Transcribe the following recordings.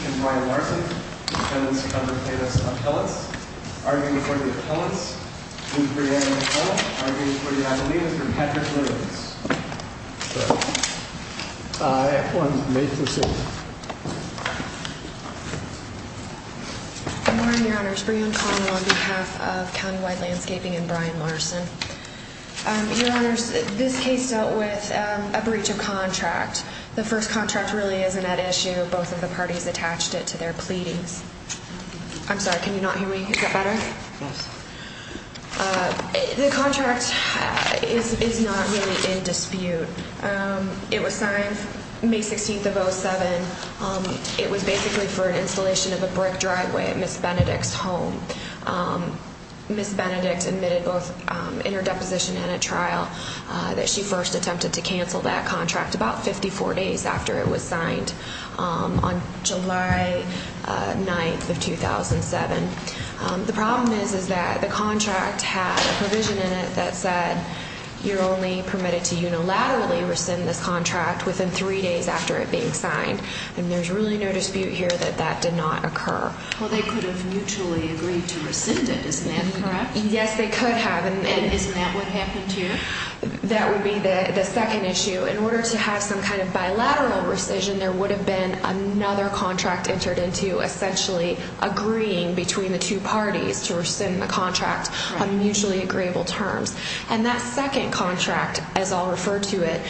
and Brian Larson, defendant's counter plaintiff's appellate, arguing before the appellate, please bring your hand up as well, arguing before the appellate, Mr. Patrick Lillings. I have one. May proceed. Good morning, Your Honors. Brian Connell on behalf of County Wide Landscaping and Brian Larson. Your Honors, this case dealt with a breach of contract. The first contract really isn't at issue. Both of the parties attached it to their pleadings. I'm sorry, can you not hear me? Is that better? Yes. The contract is not really in dispute. It was signed May 16th of 07. It was basically for an installation of a brick driveway at Ms. Benedict's home. Ms. Benedict admitted both interdeposition and a trial that she first attempted to cancel that contract about 54 days after it was signed on July 9th of 2007. The problem is that the contract had a provision in it that said you're only permitted to unilaterally rescind this contract within three days after it being signed. And there's really no dispute here that that did not occur. Well, they could have mutually agreed to rescind it. Isn't that correct? Yes, they could have. And isn't that what happened here? That would be the second issue. In order to have some kind of bilateral rescission, there would have been another contract entered into essentially agreeing between the two parties to rescind the contract on mutually agreeable terms. And that second contract, as I'll refer to it,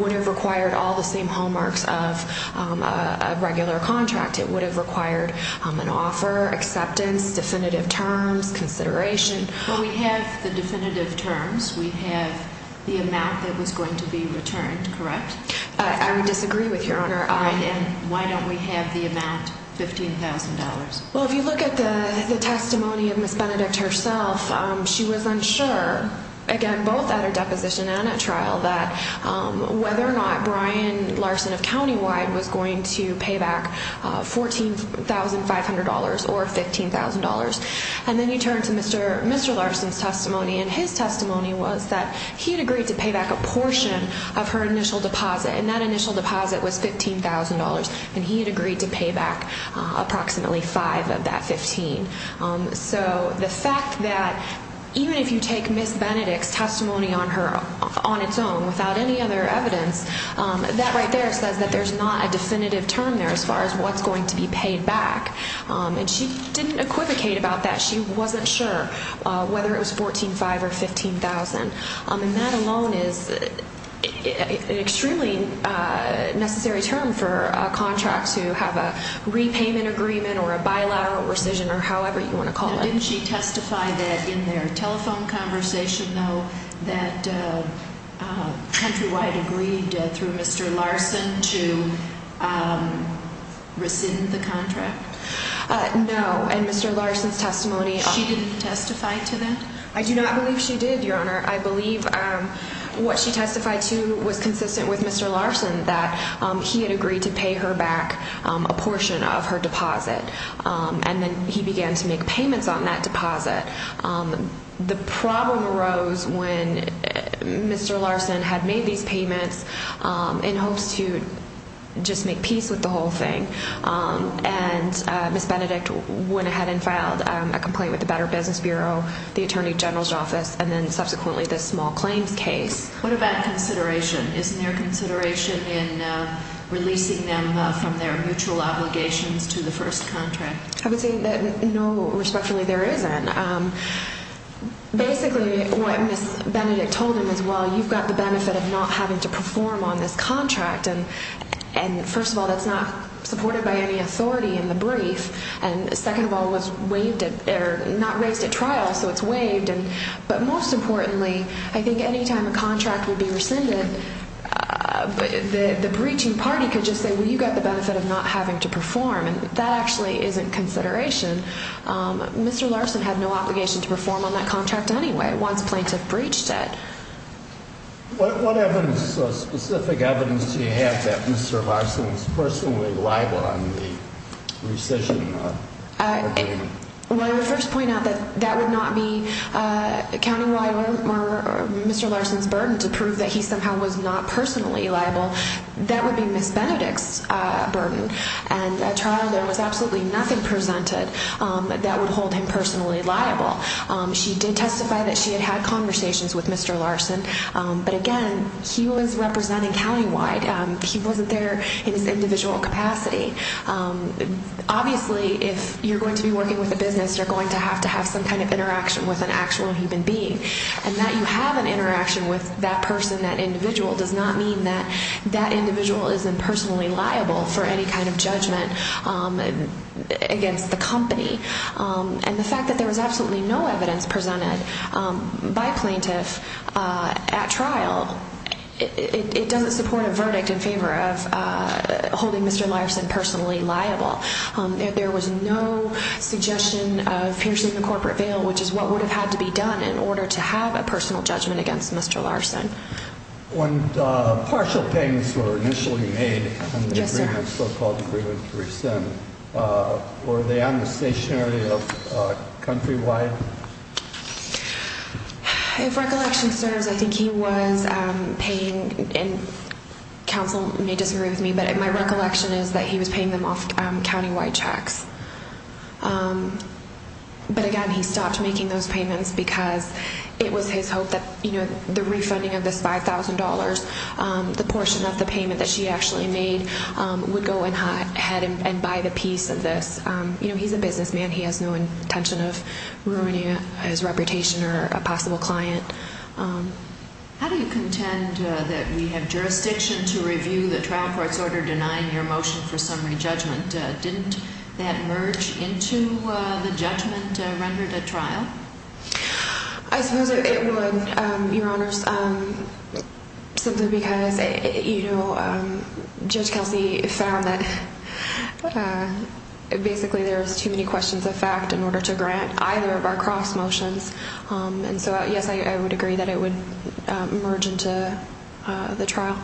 would have required all the same hallmarks of a regular contract. It would have required an offer, acceptance, definitive terms, consideration. Well, we have the definitive terms. We have the amount that was going to be returned, correct? I would disagree with Your Honor. And why don't we have the amount, $15,000? Well, if you look at the testimony of Ms. Benedict herself, she was unsure, again, both at her deposition and at trial, that whether or not Brian Larson of Countywide was going to pay back $14,500 or $15,000. And then you turn to Mr. Larson's testimony, and his testimony was that he had agreed to pay back a portion of her initial deposit. And that initial deposit was $15,000, and he had agreed to pay back approximately five of that 15. So the fact that even if you take Ms. Benedict's testimony on its own without any other evidence, that right there says that there's not a definitive term there as far as what's going to be paid back. And she didn't equivocate about that. She wasn't sure whether it was $14,500 or $15,000. And that alone is an extremely necessary term for a contract to have a repayment agreement or a bilateral rescission or however you want to call it. Didn't she testify that in their telephone conversation, though, that Countrywide agreed through Mr. Larson to rescind the contract? No. In Mr. Larson's testimony, she didn't testify to that? I do not believe she did, Your Honor. I believe what she testified to was consistent with Mr. Larson, that he had agreed to pay her back a portion of her deposit. And then he began to make payments on that deposit. The problem arose when Mr. Larson had made these payments in hopes to just make peace with the whole thing. And Ms. Benedict went ahead and filed a complaint with the Better Business Bureau, the Attorney General's Office, and then subsequently this small claims case. What about consideration? Isn't there consideration in releasing them from their mutual obligations to the first contract? I would say that no, respectfully, there isn't. Basically, what Ms. Benedict told him is, well, you've got the benefit of not having to perform on this contract. And first of all, that's not supported by any authority in the brief. And second of all, it was not raised at trial, so it's waived. But most importantly, I think any time a contract would be rescinded, the breaching party could just say, well, you've got the benefit of not having to perform. And that actually isn't consideration. Mr. Larson had no obligation to perform on that contract anyway once plaintiff breached it. What specific evidence do you have that Mr. Larson was personally liable on the rescission agreement? Well, I would first point out that that would not be accounting for Mr. Larson's burden to prove that he somehow was not personally liable. That would be Ms. Benedict's burden. And at trial, there was absolutely nothing presented that would hold him personally liable. She did testify that she had had conversations with Mr. Larson. But again, he was representing countywide. He wasn't there in his individual capacity. Obviously, if you're going to be working with a business, you're going to have to have some kind of interaction with an actual human being. And that you have an interaction with that person, that individual, does not mean that that individual is impersonally liable for any kind of judgment against the company. And the fact that there was absolutely no evidence presented by plaintiff at trial, it doesn't support a verdict in favor of holding Mr. Larson personally liable. There was no suggestion of piercing the corporate veil, which is what would have had to be done in order to have a personal judgment against Mr. Larson. When partial payments were initially made on the so-called agreement to rescind, were they on the stationery of countrywide? If recollection serves, I think he was paying, and counsel may disagree with me, but my recollection is that he was paying them off countywide checks. But again, he stopped making those payments because it was his hope that the refunding of this $5,000, the portion of the payment that she actually made, would go ahead and buy the piece of this. He's a businessman. He has no intention of ruining his reputation or a possible client. How do you contend that we have jurisdiction to review the trial court's order denying your motion for summary judgment? Didn't that merge into the judgment rendered at trial? I suppose it would, Your Honors, simply because Judge Kelsey found that basically there's too many questions of fact in order to grant either of our cross motions. And so, yes, I would agree that it would merge into the trial.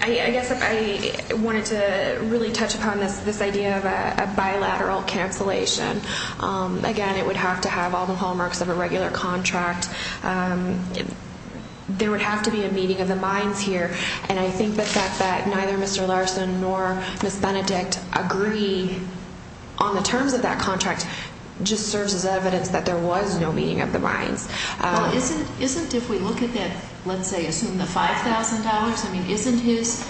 I guess if I wanted to really touch upon this idea of a bilateral cancellation, again, it would have to have all the hallmarks of a regular contract. There would have to be a meeting of the minds here. And I think the fact that neither Mr. Larson nor Ms. Benedict agree on the terms of that contract just serves as evidence that there was no meeting of the minds. Well, isn't if we look at that, let's say, assume the $5,000, I mean, isn't his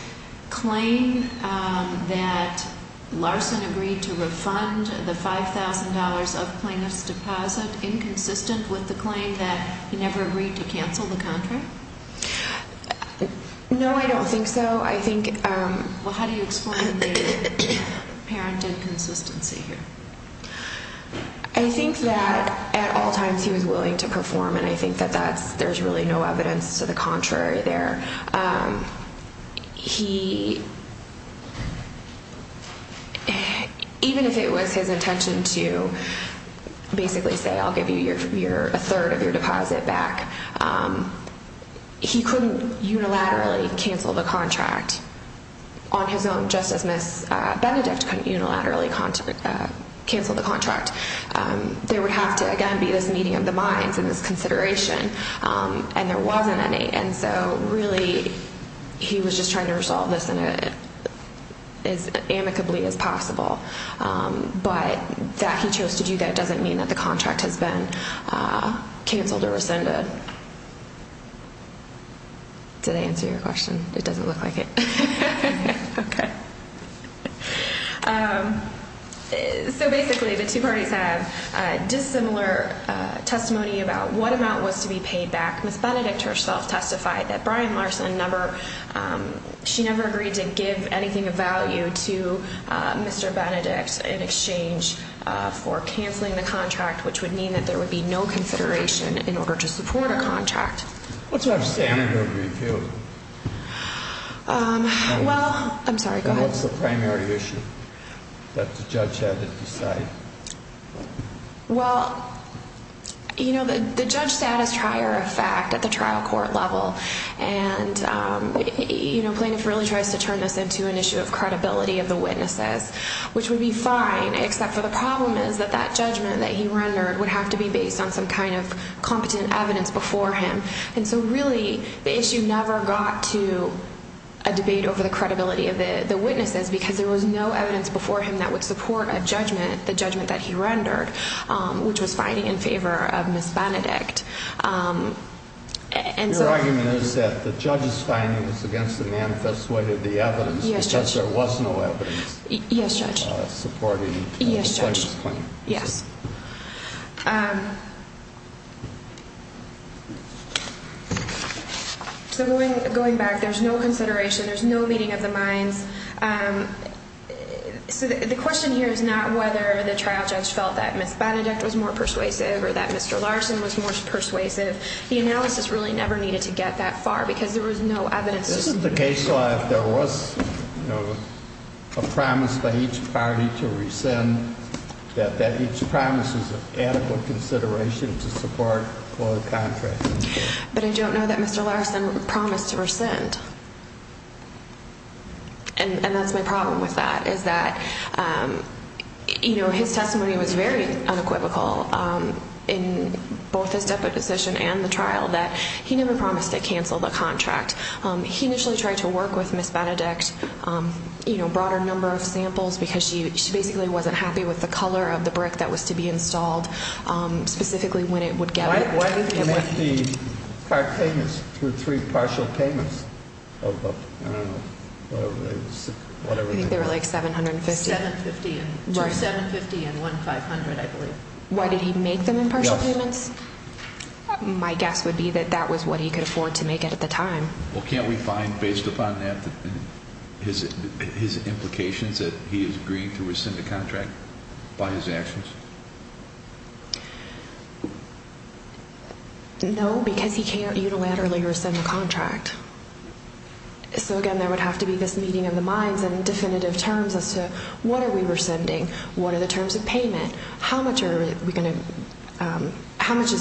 claim that Larson agreed to refund the $5,000 of plaintiff's deposit inconsistent with the claim that he never agreed to cancel the contract? No, I don't think so. Well, how do you explain the apparent inconsistency here? I think that at all times he was willing to perform, and I think that there's really no evidence to the contrary there. Even if it was his intention to basically say, I'll give you a third of your deposit back, he couldn't unilaterally cancel the contract on his own, just as Ms. Benedict couldn't unilaterally cancel the contract. There would have to, again, be this meeting of the minds and this consideration, and there wasn't any. Really, he was just trying to resolve this as amicably as possible, but that he chose to do that doesn't mean that the contract has been canceled or rescinded. Did I answer your question? It doesn't look like it. Okay. So basically, the two parties have dissimilar testimony about what amount was to be paid back. Ms. Benedict herself testified that Brian Larson, she never agreed to give anything of value to Mr. Benedict in exchange for canceling the contract, which would mean that there would be no consideration in order to support a contract. What's your understanding? Well, I'm sorry, go ahead. What's the primary issue that the judge had to decide? Well, you know, the judge said it's prior effect at the trial court level, and Plaintiff really tries to turn this into an issue of credibility of the witnesses, which would be fine, except for the problem is that that judgment that he rendered would have to be based on some kind of competent evidence before him. And so really, the issue never got to a debate over the credibility of the witnesses because there was no evidence before him that would support a judgment, the judgment that he rendered, which was finding in favor of Ms. Benedict. Your argument is that the judge's findings against the man persuaded the evidence because there was no evidence supporting the plaintiff's claim. Yes. So going back, there's no consideration. There's no meeting of the minds. So the question here is not whether the trial judge felt that Ms. Benedict was more persuasive or that Mr. Larson was more persuasive. The analysis really never needed to get that far because there was no evidence. This isn't the case law if there was a promise by each party to rescind, that each promise is an adequate consideration to support a contract. But I don't know that Mr. Larson promised to rescind. And that's my problem with that, is that his testimony was very unequivocal in both his deputy decision and the trial that he never promised to cancel the contract. He initially tried to work with Ms. Benedict, you know, a broader number of samples because she basically wasn't happy with the color of the brick that was to be installed, specifically when it would get. Why did he make the car payments through three partial payments? I think they were like $750. $750 and $1500, I believe. Why did he make them in partial payments? My guess would be that that was what he could afford to make it at the time. Well, can't we find, based upon that, his implications that he is agreeing to rescind the contract by his actions? No, because he can't unilaterally rescind the contract. So, again, there would have to be this meeting of the minds and definitive terms as to what are we rescinding, what are the terms of payment, how much is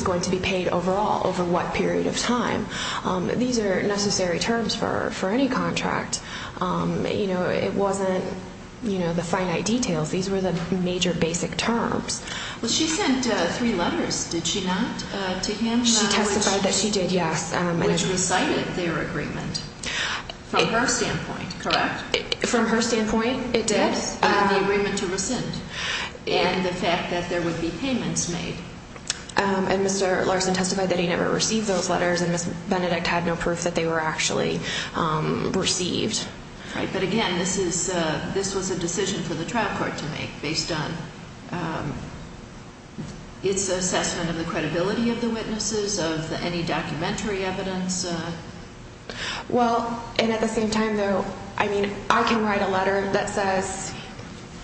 going to be paid overall over what period of time. These are necessary terms for any contract. You know, it wasn't, you know, the finite details. These were the major basic terms. Well, she sent three letters, did she not, to him? She testified that she did, yes. Which recited their agreement from her standpoint, correct? From her standpoint, it did. Yes, the agreement to rescind and the fact that there would be payments made. And Mr. Larson testified that he never received those letters and Ms. Benedict had no proof that they were actually received. Right, but again, this was a decision for the trial court to make based on its assessment of the credibility of the witnesses, of any documentary evidence. Well, and at the same time, though, I mean, I can write a letter that says,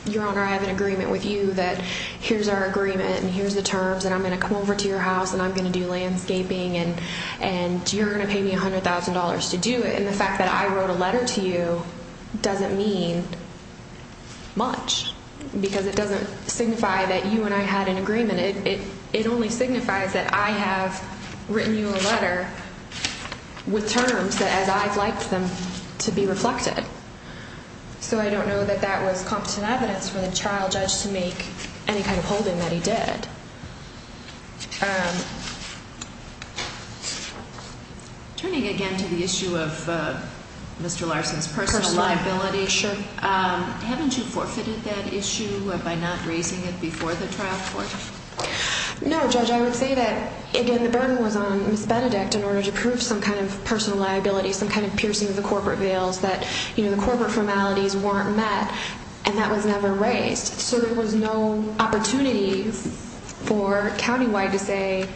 Your Honor, I have an agreement with you that here's our agreement and here's the terms and I'm going to come over to your house and I'm going to do landscaping and you're going to pay me $100,000 to do it. And the fact that I wrote a letter to you doesn't mean much because it doesn't signify that you and I had an agreement. It only signifies that I have written you a letter with terms as I'd like them to be reflected. So I don't know that that was competent evidence for the trial judge to make any kind of holding that he did. Turning again to the issue of Mr. Larson's personal liability, haven't you forfeited that issue by not raising it before the trial court? No, Judge, I would say that, again, the burden was on Ms. Benedict in order to prove some kind of personal liability, some kind of piercing of the corporate veils that, you know, the corporate formalities weren't met and that was never raised. So there was no opportunity for Countywide to say,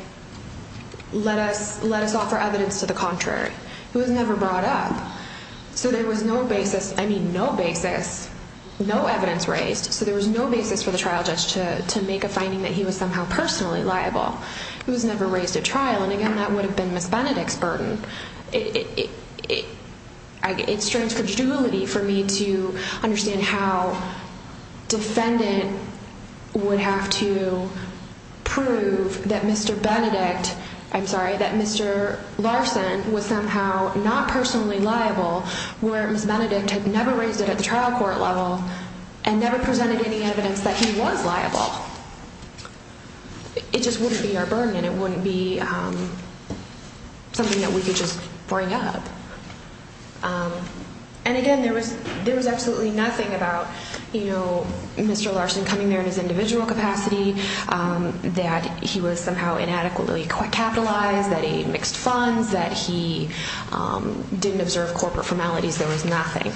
let us offer evidence to the contrary. It was never brought up. So there was no basis, I mean no basis, no evidence raised, so there was no basis for the trial judge to make a finding that he was somehow personally liable. It was never raised at trial and, again, that would have been Ms. Benedict's burden. It strains credulity for me to understand how defendant would have to prove that Mr. Benedict, I'm sorry, that Mr. Larson was somehow not personally liable where Ms. Benedict had never raised it at the trial court level and never presented any evidence that he was liable. It just wouldn't be our burden and it wouldn't be something that we could just bring up. And, again, there was absolutely nothing about, you know, Mr. Larson coming there in his individual capacity, that he was somehow inadequately capitalized, that he mixed funds, that he didn't observe corporate formalities, there was nothing.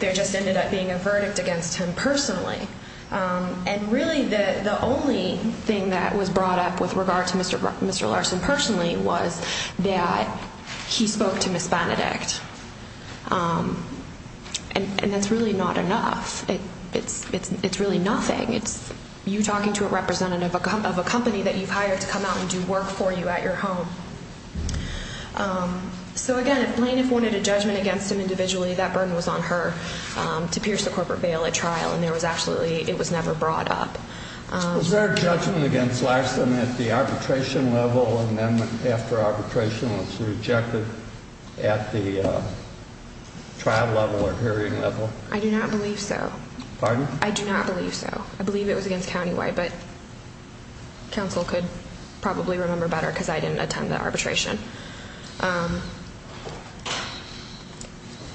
There just ended up being a verdict against him personally. And, really, the only thing that was brought up with regard to Mr. Larson personally was that he spoke to Ms. Benedict. And that's really not enough. It's really nothing. It's you talking to a representative of a company that you've hired to come out and do work for you at your home. So, again, if plaintiff wanted a judgment against him individually, that burden was on her to pierce the corporate bail at trial and there was absolutely, it was never brought up. Was there a judgment against Larson at the arbitration level and then after arbitration was rejected at the trial level or hearing level? I do not believe so. Pardon? I do not believe so. I believe it was against County White, but counsel could probably remember better because I didn't attend the arbitration.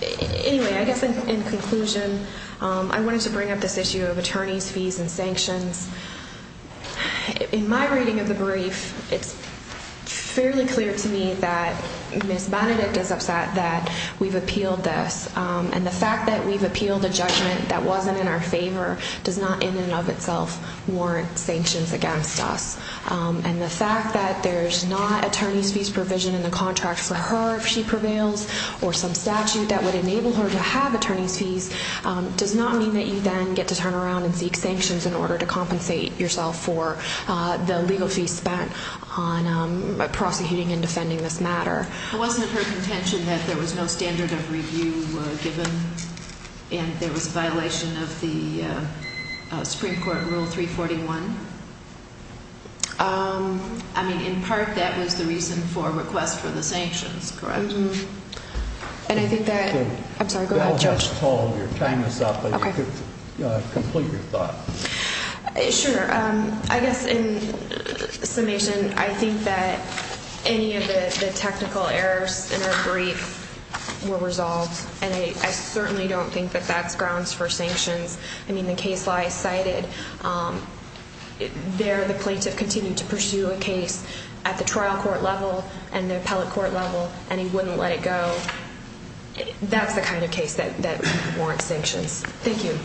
Anyway, I guess in conclusion, I wanted to bring up this issue of attorneys' fees and sanctions. In my reading of the brief, it's fairly clear to me that Ms. Benedict is upset that we've appealed this. And the fact that we've appealed a judgment that wasn't in our favor does not in and of itself warrant sanctions against us. And the fact that there's not attorneys' fees provision in the contract for her if she prevails or some statute that would enable her to have attorneys' fees does not mean that you then get to turn around and seek sanctions in order to compensate yourself for the legal fees spent on prosecuting and defending this matter. It wasn't her contention that there was no standard of review given and there was a violation of the Supreme Court Rule 341. I mean, in part, that was the reason for a request for the sanctions, correct? And I think that – I'm sorry, go ahead, Judge. You all have a call. You're tying this up, but you could complete your thought. Sure. I guess in summation, I think that any of the technical errors in her brief were resolved. And I certainly don't think that that's grounds for sanctions. I mean, the case law is cited. There, the plaintiff continued to pursue a case at the trial court level and the appellate court level, and he wouldn't let it go. That's the kind of case that warrants sanctions. Thank you. Thank you.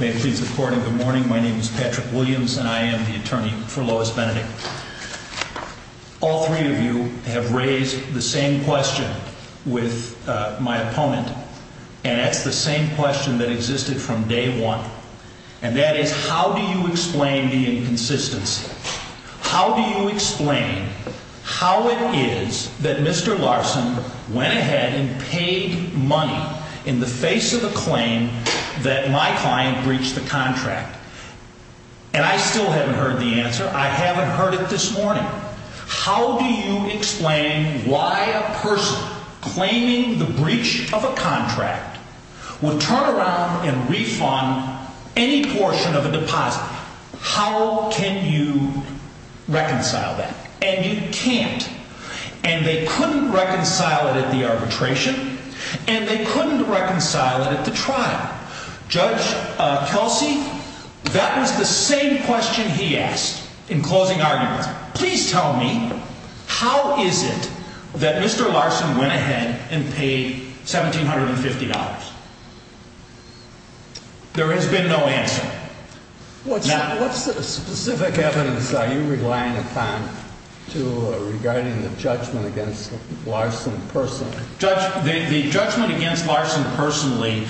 May it please the Court, and good morning. My name is Patrick Williams, and I am the attorney for Lois Benedict. All three of you have raised the same question with my opponent, and that's the same question that existed from day one. And that is, how do you explain the inconsistency? How do you explain how it is that Mr. Larson went ahead and paid money in the face of a claim that my client breached the contract? And I still haven't heard the answer. I haven't heard it this morning. How do you explain why a person claiming the breach of a contract would turn around and refund any portion of a deposit? How can you reconcile that? And you can't. And they couldn't reconcile it at the arbitration, and they couldn't reconcile it at the trial. Judge Kelsey, that was the same question he asked in closing arguments. Please tell me, how is it that Mr. Larson went ahead and paid $1,750? There has been no answer. What specific evidence are you relying upon regarding the judgment against Larson personally? Judge, the judgment against Larson personally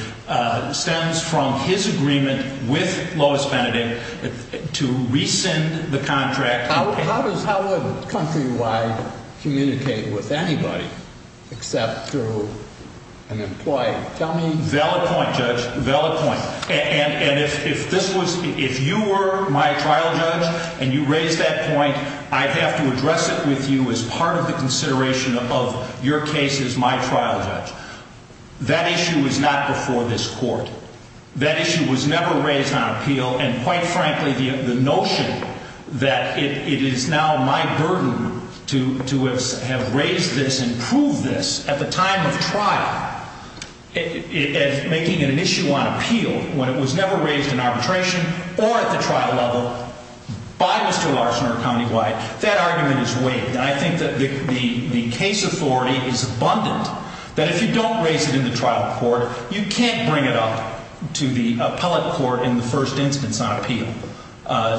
stems from his agreement with Lois Benedict to rescind the contract. How would Countrywide communicate with anybody except through an employee? Tell me. Valid point, Judge, valid point. And if you were my trial judge and you raised that point, I'd have to address it with you as part of the consideration of your case as my trial judge. That issue was not before this court. And quite frankly, the notion that it is now my burden to have raised this and proved this at the time of trial, making an issue on appeal, when it was never raised in arbitration or at the trial level by Mr. Larson or Countywide, that argument is weighed. And I think that the case authority is abundant that if you don't raise it in the trial court, you can't bring it up to the appellate court in the first instance on appeal.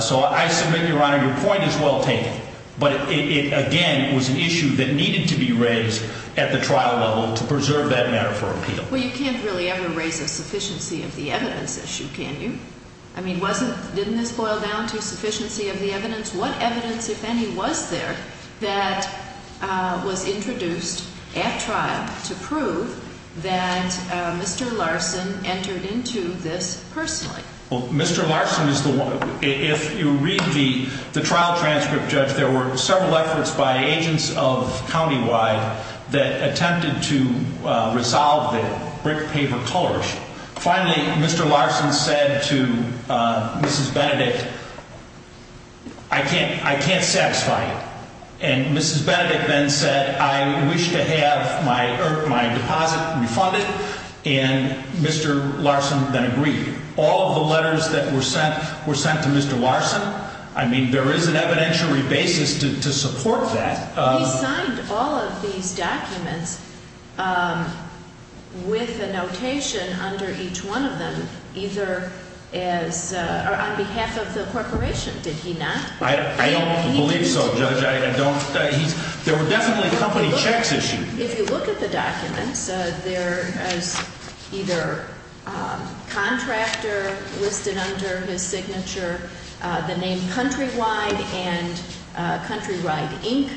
So I submit, Your Honor, your point is well taken. But it, again, was an issue that needed to be raised at the trial level to preserve that matter for appeal. Well, you can't really ever raise a sufficiency of the evidence issue, can you? I mean, didn't this boil down to sufficiency of the evidence? What evidence, if any, was there that was introduced at trial to prove that Mr. Larson entered into this personally? Well, Mr. Larson is the one. If you read the trial transcript, Judge, there were several efforts by agents of Countywide that attempted to resolve the brick paper color issue. Finally, Mr. Larson said to Mrs. Benedict, I can't satisfy you. And Mrs. Benedict then said, I wish to have my deposit refunded. And Mr. Larson then agreed. All of the letters that were sent were sent to Mr. Larson. I mean, there is an evidentiary basis to support that. He signed all of these documents with a notation under each one of them either as on behalf of the corporation, did he not? I don't believe so, Judge. I don't. There were definitely company checks issued. If you look at the documents, there is either contractor listed under his signature, the name Countrywide, and Countrywide, Inc.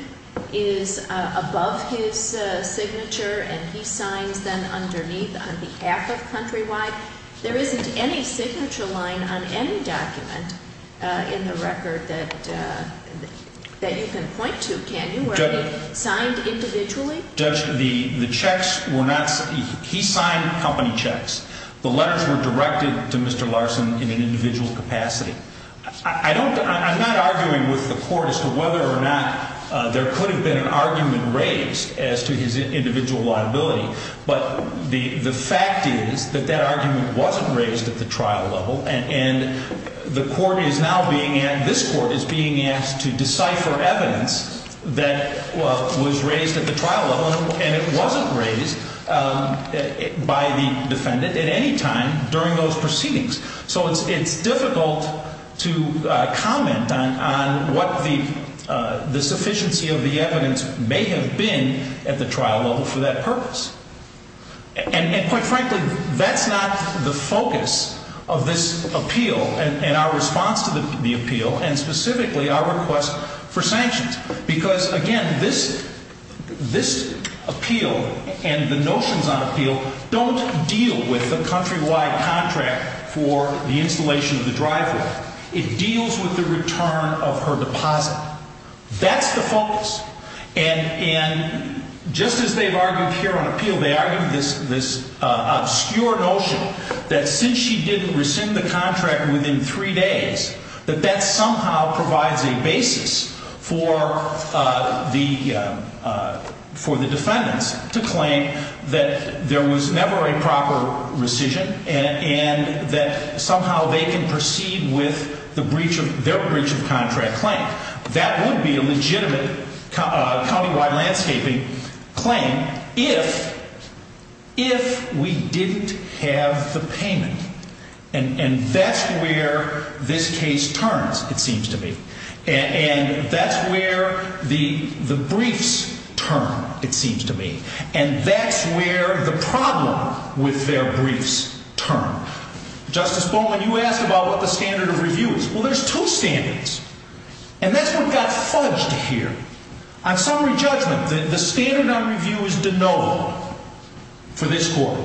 is above his signature. And he signs then underneath on behalf of Countrywide. There isn't any signature line on any document in the record that you can point to, can you? Were they signed individually? Judge, the checks were not – he signed company checks. The letters were directed to Mr. Larson in an individual capacity. I don't – I'm not arguing with the court as to whether or not there could have been an argument raised as to his individual liability. But the fact is that that argument wasn't raised at the trial level, and the court is now being – this court is being asked to decipher evidence that was raised at the trial level, and it wasn't raised by the defendant at any time during those proceedings. So it's difficult to comment on what the sufficiency of the evidence may have been at the trial level for that purpose. And quite frankly, that's not the focus of this appeal and our response to the appeal, and specifically our request for sanctions. Because, again, this appeal and the notions on appeal don't deal with the Countrywide contract for the installation of the driveway. It deals with the return of her deposit. That's the focus. And just as they've argued here on appeal, they argued this obscure notion that since she didn't rescind the contract within three days, that that somehow provides a basis for the defendants to claim that there was never a proper rescission and that somehow they can proceed with the breach of – their breach of contract claim. That would be a legitimate countywide landscaping claim if we didn't have the payment. And that's where this case turns, it seems to me. And that's where the briefs turn, it seems to me. And that's where the problem with their briefs turn. Justice Bowman, you asked about what the standard of review is. Well, there's two standards. And that's what got fudged here. On summary judgment, the standard of review is de novo for this Court.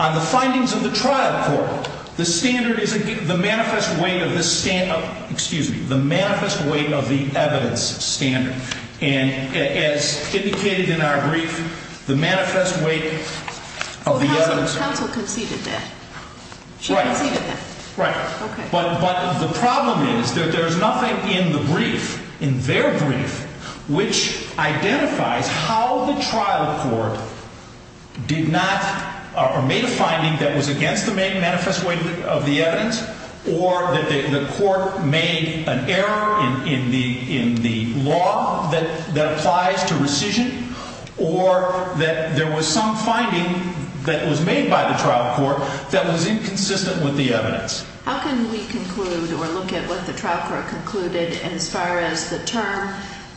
On the findings of the trial court, the standard is the manifest weight of the – excuse me – the manifest weight of the evidence standard. And as indicated in our brief, the manifest weight of the evidence – Counsel conceded that. Right. She conceded that. Right. Okay. But the problem is that there's nothing in the brief, in their brief, which identifies how the trial court did not – or made a finding that was against the main manifest weight of the evidence or that the court made an error in the law that applies to rescission or that there was some finding that was made by the trial court that was inconsistent with the evidence. How can we conclude or look at what the trial court concluded as far as the term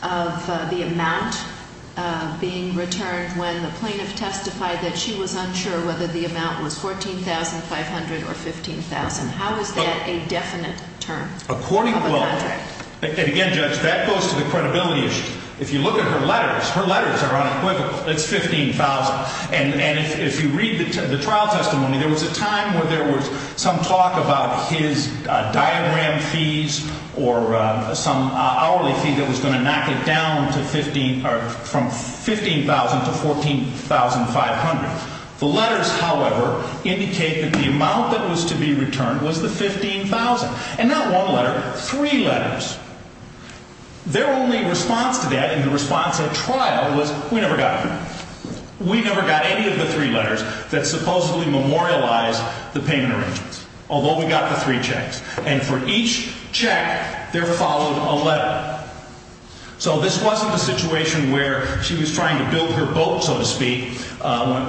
of the amount being returned when the plaintiff testified that she was unsure whether the amount was $14,500 or $15,000? How is that a definite term? According – Of a contract. And again, Judge, that goes to the credibility issue. If you look at her letters, her letters are unequivocal. It's $15,000. And if you read the trial testimony, there was a time where there was some talk about his diagram fees or some hourly fee that was going to knock it down to 15 – or from $15,000 to $14,500. The letters, however, indicate that the amount that was to be returned was the $15,000. And not one letter. Three letters. Their only response to that in the response at trial was, we never got it. We never got any of the three letters that supposedly memorialized the payment arrangements, although we got the three checks. And for each check, there followed a letter. So this wasn't a situation where she was trying to build her boat, so to speak,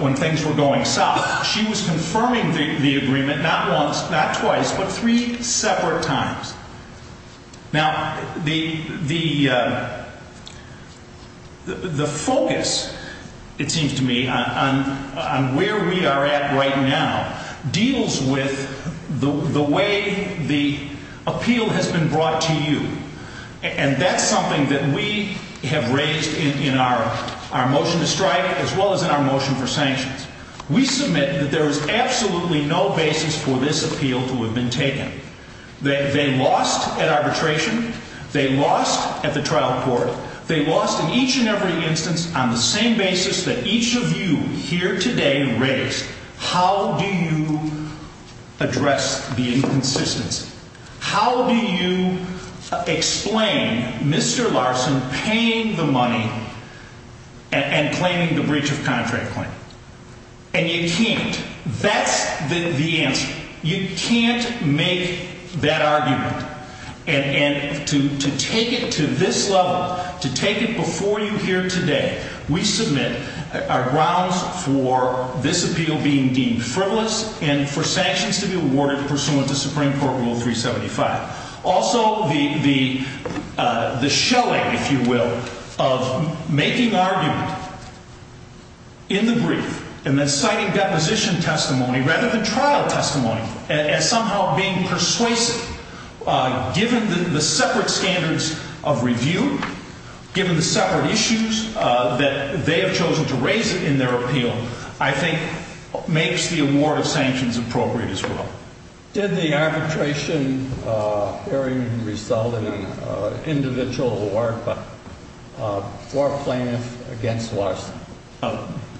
when things were going south. She was confirming the agreement not once, not twice, but three separate times. Now, the focus, it seems to me, on where we are at right now deals with the way the appeal has been brought to you. And that's something that we have raised in our motion to strike as well as in our motion for sanctions. We submit that there is absolutely no basis for this appeal to have been taken. They lost at arbitration. They lost at the trial court. They lost in each and every instance on the same basis that each of you here today raised. How do you address the inconsistency? How do you explain Mr. Larson paying the money and claiming the breach of contract claim? And you can't. That's the answer. You can't make that argument. And to take it to this level, to take it before you here today, we submit our grounds for this appeal being deemed frivolous and for sanctions to be awarded pursuant to Supreme Court Rule 375. Also, the shelling, if you will, of making argument in the brief and then citing deposition testimony rather than trial testimony as somehow being persuasive, given the separate standards of review, given the separate issues that they have chosen to raise in their appeal, I think makes the award of sanctions appropriate as well. Did the arbitration hearing result in an individual or a plaintiff against Larson?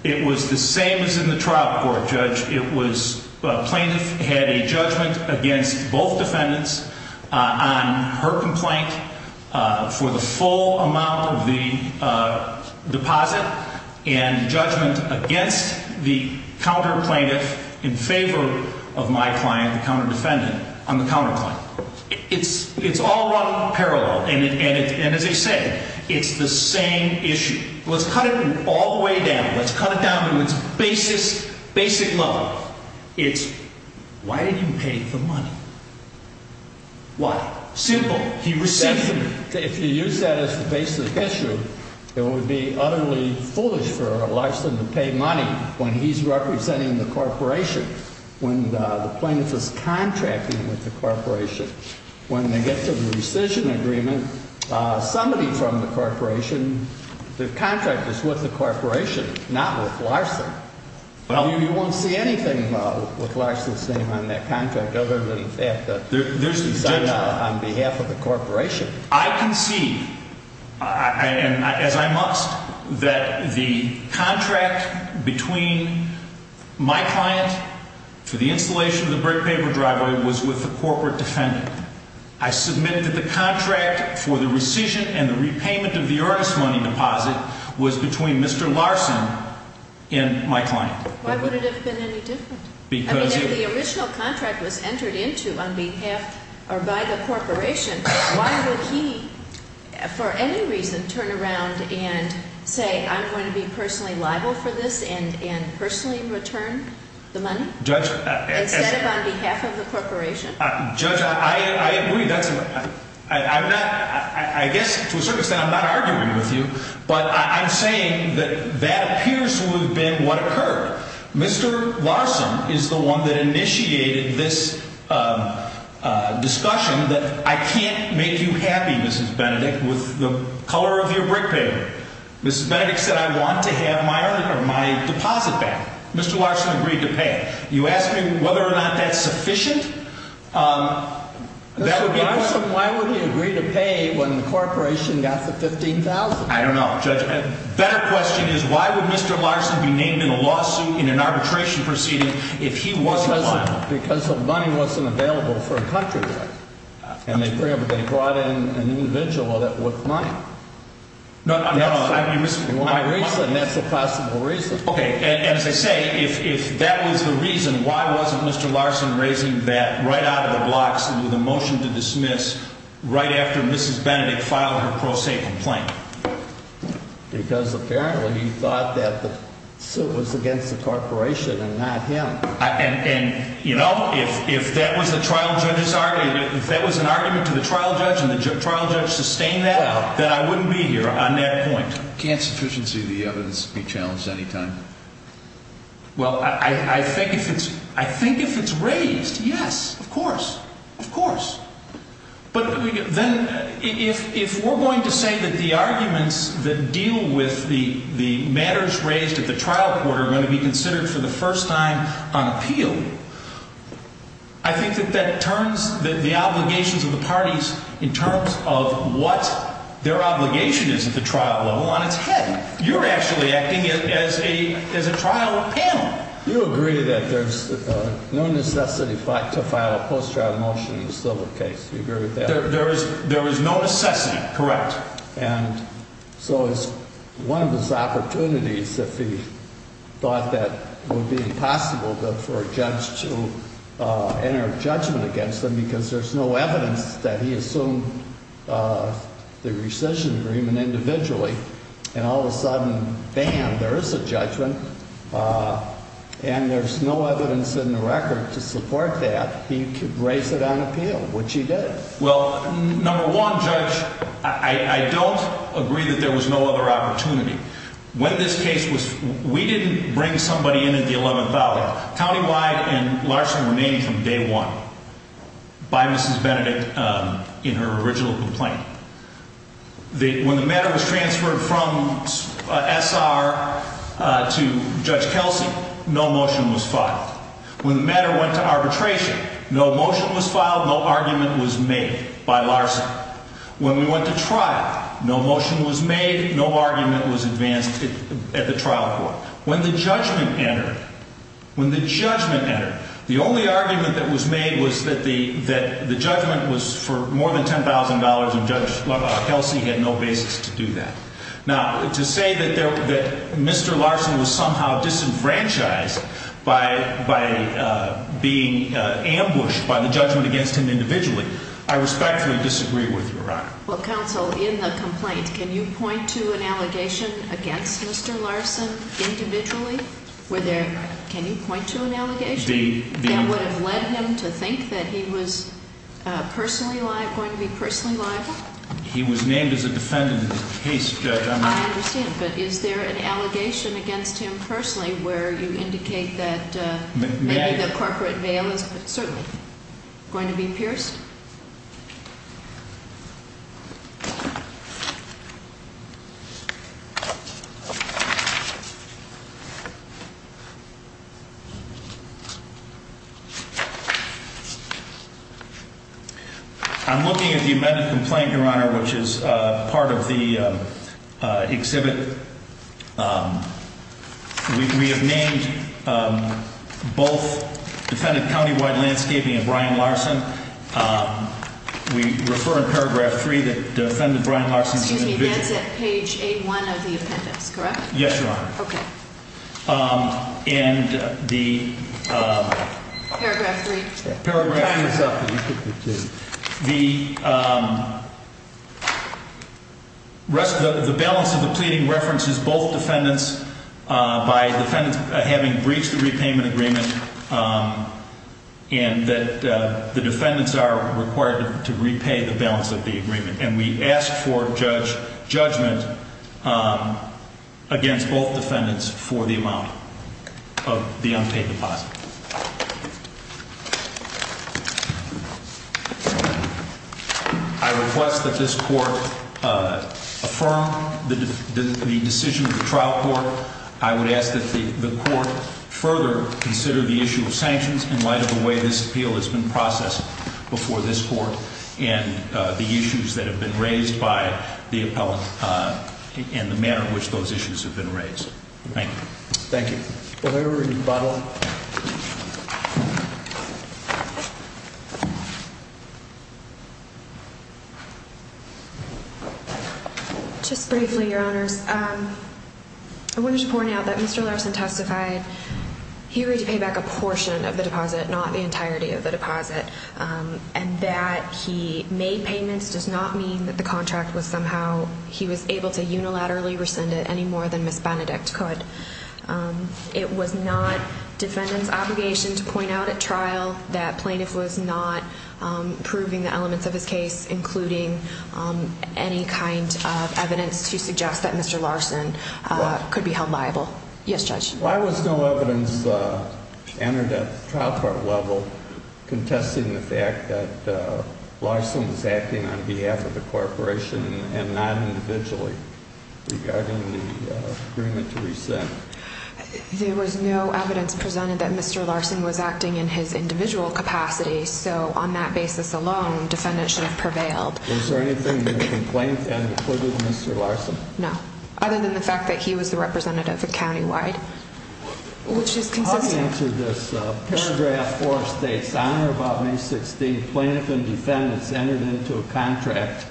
It was the same as in the trial court, Judge. Plaintiff had a judgment against both defendants on her complaint for the full amount of the deposit and judgment against the counter-plaintiff in favor of my client, the counter-defendant, on the counter-claim. It's all run parallel. And as I said, it's the same issue. Let's cut it all the way down. Let's cut it down to its basic level. It's why did you pay for money? Why? Simple. He received the money. If you use that as the basic issue, it would be utterly foolish for Larson to pay money when he's representing the corporation, when the plaintiff is contracting with the corporation. When they get to the rescission agreement, somebody from the corporation, the contract is with the corporation, not with Larson. You won't see anything with Larson's name on that contract other than the fact that it's on behalf of the corporation. I concede, and as I must, that the contract between my client for the installation of the brick-paper driveway was with the corporate defendant. I submit that the contract for the rescission and the repayment of the earnest money deposit was between Mr. Larson and my client. Why would it have been any different? I mean, if the original contract was entered into on behalf or by the corporation, why would he, for any reason, turn around and say, I'm going to be personally liable for this and personally return the money instead of on behalf of the corporation? Judge, I agree. I guess, to a certain extent, I'm not arguing with you, but I'm saying that that appears to have been what occurred. Mr. Larson is the one that initiated this discussion that I can't make you happy, Mrs. Benedict, with the color of your brick-paper. Mrs. Benedict said, I want to have my deposit back. Mr. Larson agreed to pay. You ask me whether or not that's sufficient? Mr. Larson, why would he agree to pay when the corporation got the $15,000? I don't know, Judge. A better question is, why would Mr. Larson be named in a lawsuit in an arbitration proceeding if he wasn't liable? Because the money wasn't available for a contract. And they brought in an individual that wasn't liable. No, no. That's the possible reason. Okay, and as I say, if that was the reason, why wasn't Mr. Larson raising that right out of the blocks with a motion to dismiss right after Mrs. Benedict filed her pro se complaint? Because apparently he thought that the suit was against the corporation and not him. And, you know, if that was the trial judge's argument, if that was an argument to the trial judge and the trial judge sustained that, then I wouldn't be here on that point. Can't sufficiency of the evidence be challenged any time? Well, I think if it's raised, yes, of course, of course. But then if we're going to say that the arguments that deal with the matters raised at the trial court are going to be considered for the first time on appeal, I think that that turns the obligations of the parties in terms of what their obligation is at the trial level on its head. You're actually acting as a trial panel. You agree that there's no necessity to file a post-trial motion in a civil case. You agree with that? There is no necessity, correct. And so it's one of those opportunities that he thought that would be impossible for a judge to enter a judgment against him because there's no evidence that he assumed the rescission agreement individually. And all of a sudden, bam, there is a judgment and there's no evidence in the record to support that. He could raise it on appeal, which he did. Well, number one, Judge, I don't agree that there was no other opportunity. When this case was – we didn't bring somebody in at the 11th Valley. Countywide and Larson were named from day one by Mrs. Benedict in her original complaint. When the matter was transferred from S.R. to Judge Kelsey, no motion was filed. When the matter went to arbitration, no motion was filed, no argument was made by Larson. When we went to trial, no motion was made, no argument was advanced at the trial court. When the judgment entered, when the judgment entered, the only argument that was made was that the judgment was for more than $10,000 and Judge Kelsey had no basis to do that. Now, to say that Mr. Larson was somehow disenfranchised by being ambushed by the judgment against him individually, I respectfully disagree with you, Your Honor. Well, counsel, in the complaint, can you point to an allegation against Mr. Larson individually? Were there – can you point to an allegation that would have led him to think that he was personally liable, going to be personally liable? He was named as a defendant in the case, Judge. I understand, but is there an allegation against him personally where you indicate that maybe the corporate veil is certainly going to be pierced? I'm looking at the amended complaint, Your Honor, which is part of the exhibit. We have named both defendant countywide landscaping and Brian Larson. Excuse me, that's at page A1 of the appendix, correct? Yes, Your Honor. Okay. And the – Paragraph 3. Paragraph 3. The balance of the pleading references both defendants by defendants having breached the repayment agreement and that the defendants are required to repay the balance of the agreement. And we ask for judgment against both defendants for the amount of the unpaid deposit. I request that this Court affirm the decision of the trial court. I would ask that the Court further consider the issue of sanctions in light of the way this appeal has been processed before this Court and the issues that have been raised by the appellant and the manner in which those issues have been raised. Thank you. Thank you. Ms. Benedict. It was not defendant's obligation to point out at trial that plaintiff was not proving the elements of his case, including any kind of evidence to suggest that Mr. Larson could be held liable. Yes, Judge. Why was no evidence entered at the trial court level contesting the fact that Larson was acting on behalf of the corporation and not individually regarding the agreement to rescind? There was no evidence presented that Mr. Larson was acting in his individual capacity, so on that basis alone, defendant should have prevailed. Was there anything in the complaint that included Mr. Larson? No, other than the fact that he was the representative countywide, which is consistent. Let me answer this. Paragraph 4 states, on or about May 16th, plaintiff and defendants entered into a contract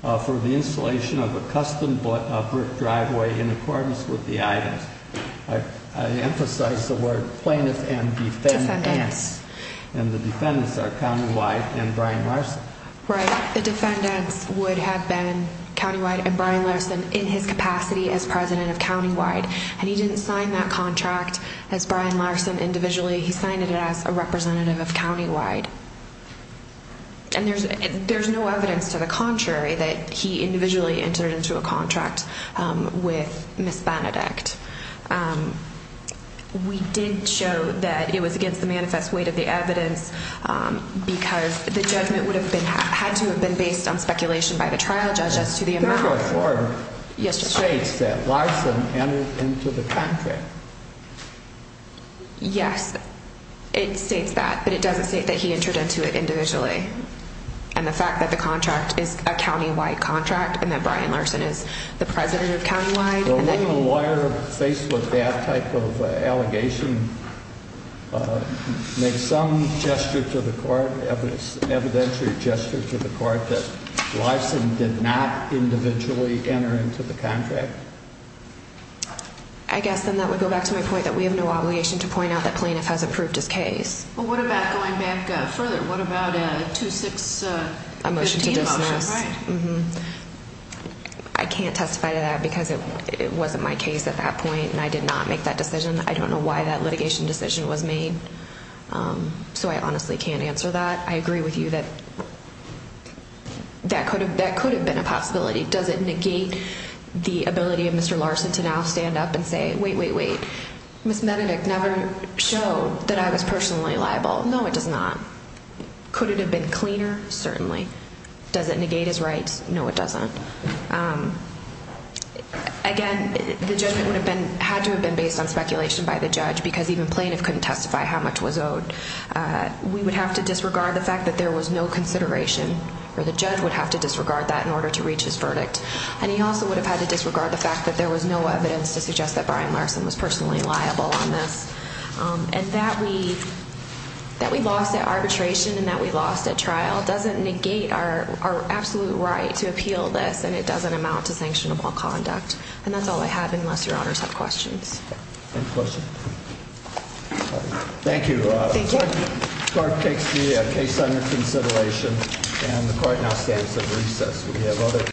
for the installation of a custom brick driveway in accordance with the items. I emphasize the word plaintiff and defendant. Defendants. And the defendants are countywide and Brian Larson. Right. The defendants would have been countywide and Brian Larson in his capacity as president of countywide, and he didn't sign that contract as Brian Larson individually. He signed it as a representative of countywide. And there's no evidence to the contrary that he individually entered into a contract with Miss Benedict. We did show that it was against the manifest weight of the evidence because the judgment had to have been based on speculation by the trial judge as to the amount. Paragraph 4 states that Larson entered into the contract. Yes, it states that, but it doesn't state that he entered into it individually. And the fact that the contract is a countywide contract and that Brian Larson is the president of countywide. Will a lawyer faced with that type of allegation make some gesture to the court, evidentiary gesture to the court that Larson did not individually enter into the contract? I guess then that would go back to my point that we have no obligation to point out that plaintiff has approved his case. Well, what about going back further? What about a 2-6-15 motion? A motion to dismiss. Right. I can't testify to that because it wasn't my case at that point and I did not make that decision. I don't know why that litigation decision was made, so I honestly can't answer that. I agree with you that that could have been a possibility. Does it negate the ability of Mr. Larson to now stand up and say, wait, wait, wait, Miss Benedict never showed that I was personally liable. No, it does not. Could it have been cleaner? Certainly. Does it negate his rights? No, it doesn't. Again, the judgment had to have been based on speculation by the judge because even plaintiff couldn't testify how much was owed. We would have to disregard the fact that there was no consideration or the judge would have to disregard that in order to reach his verdict. And he also would have had to disregard the fact that there was no evidence to suggest that Brian Larson was personally liable on this. And that we lost at arbitration and that we lost at trial doesn't negate our absolute right to appeal this and it doesn't amount to sanctionable conduct. And that's all I have unless your honors have questions. Any questions? Thank you. Thank you. Court takes the case under consideration and the court now stands at recess.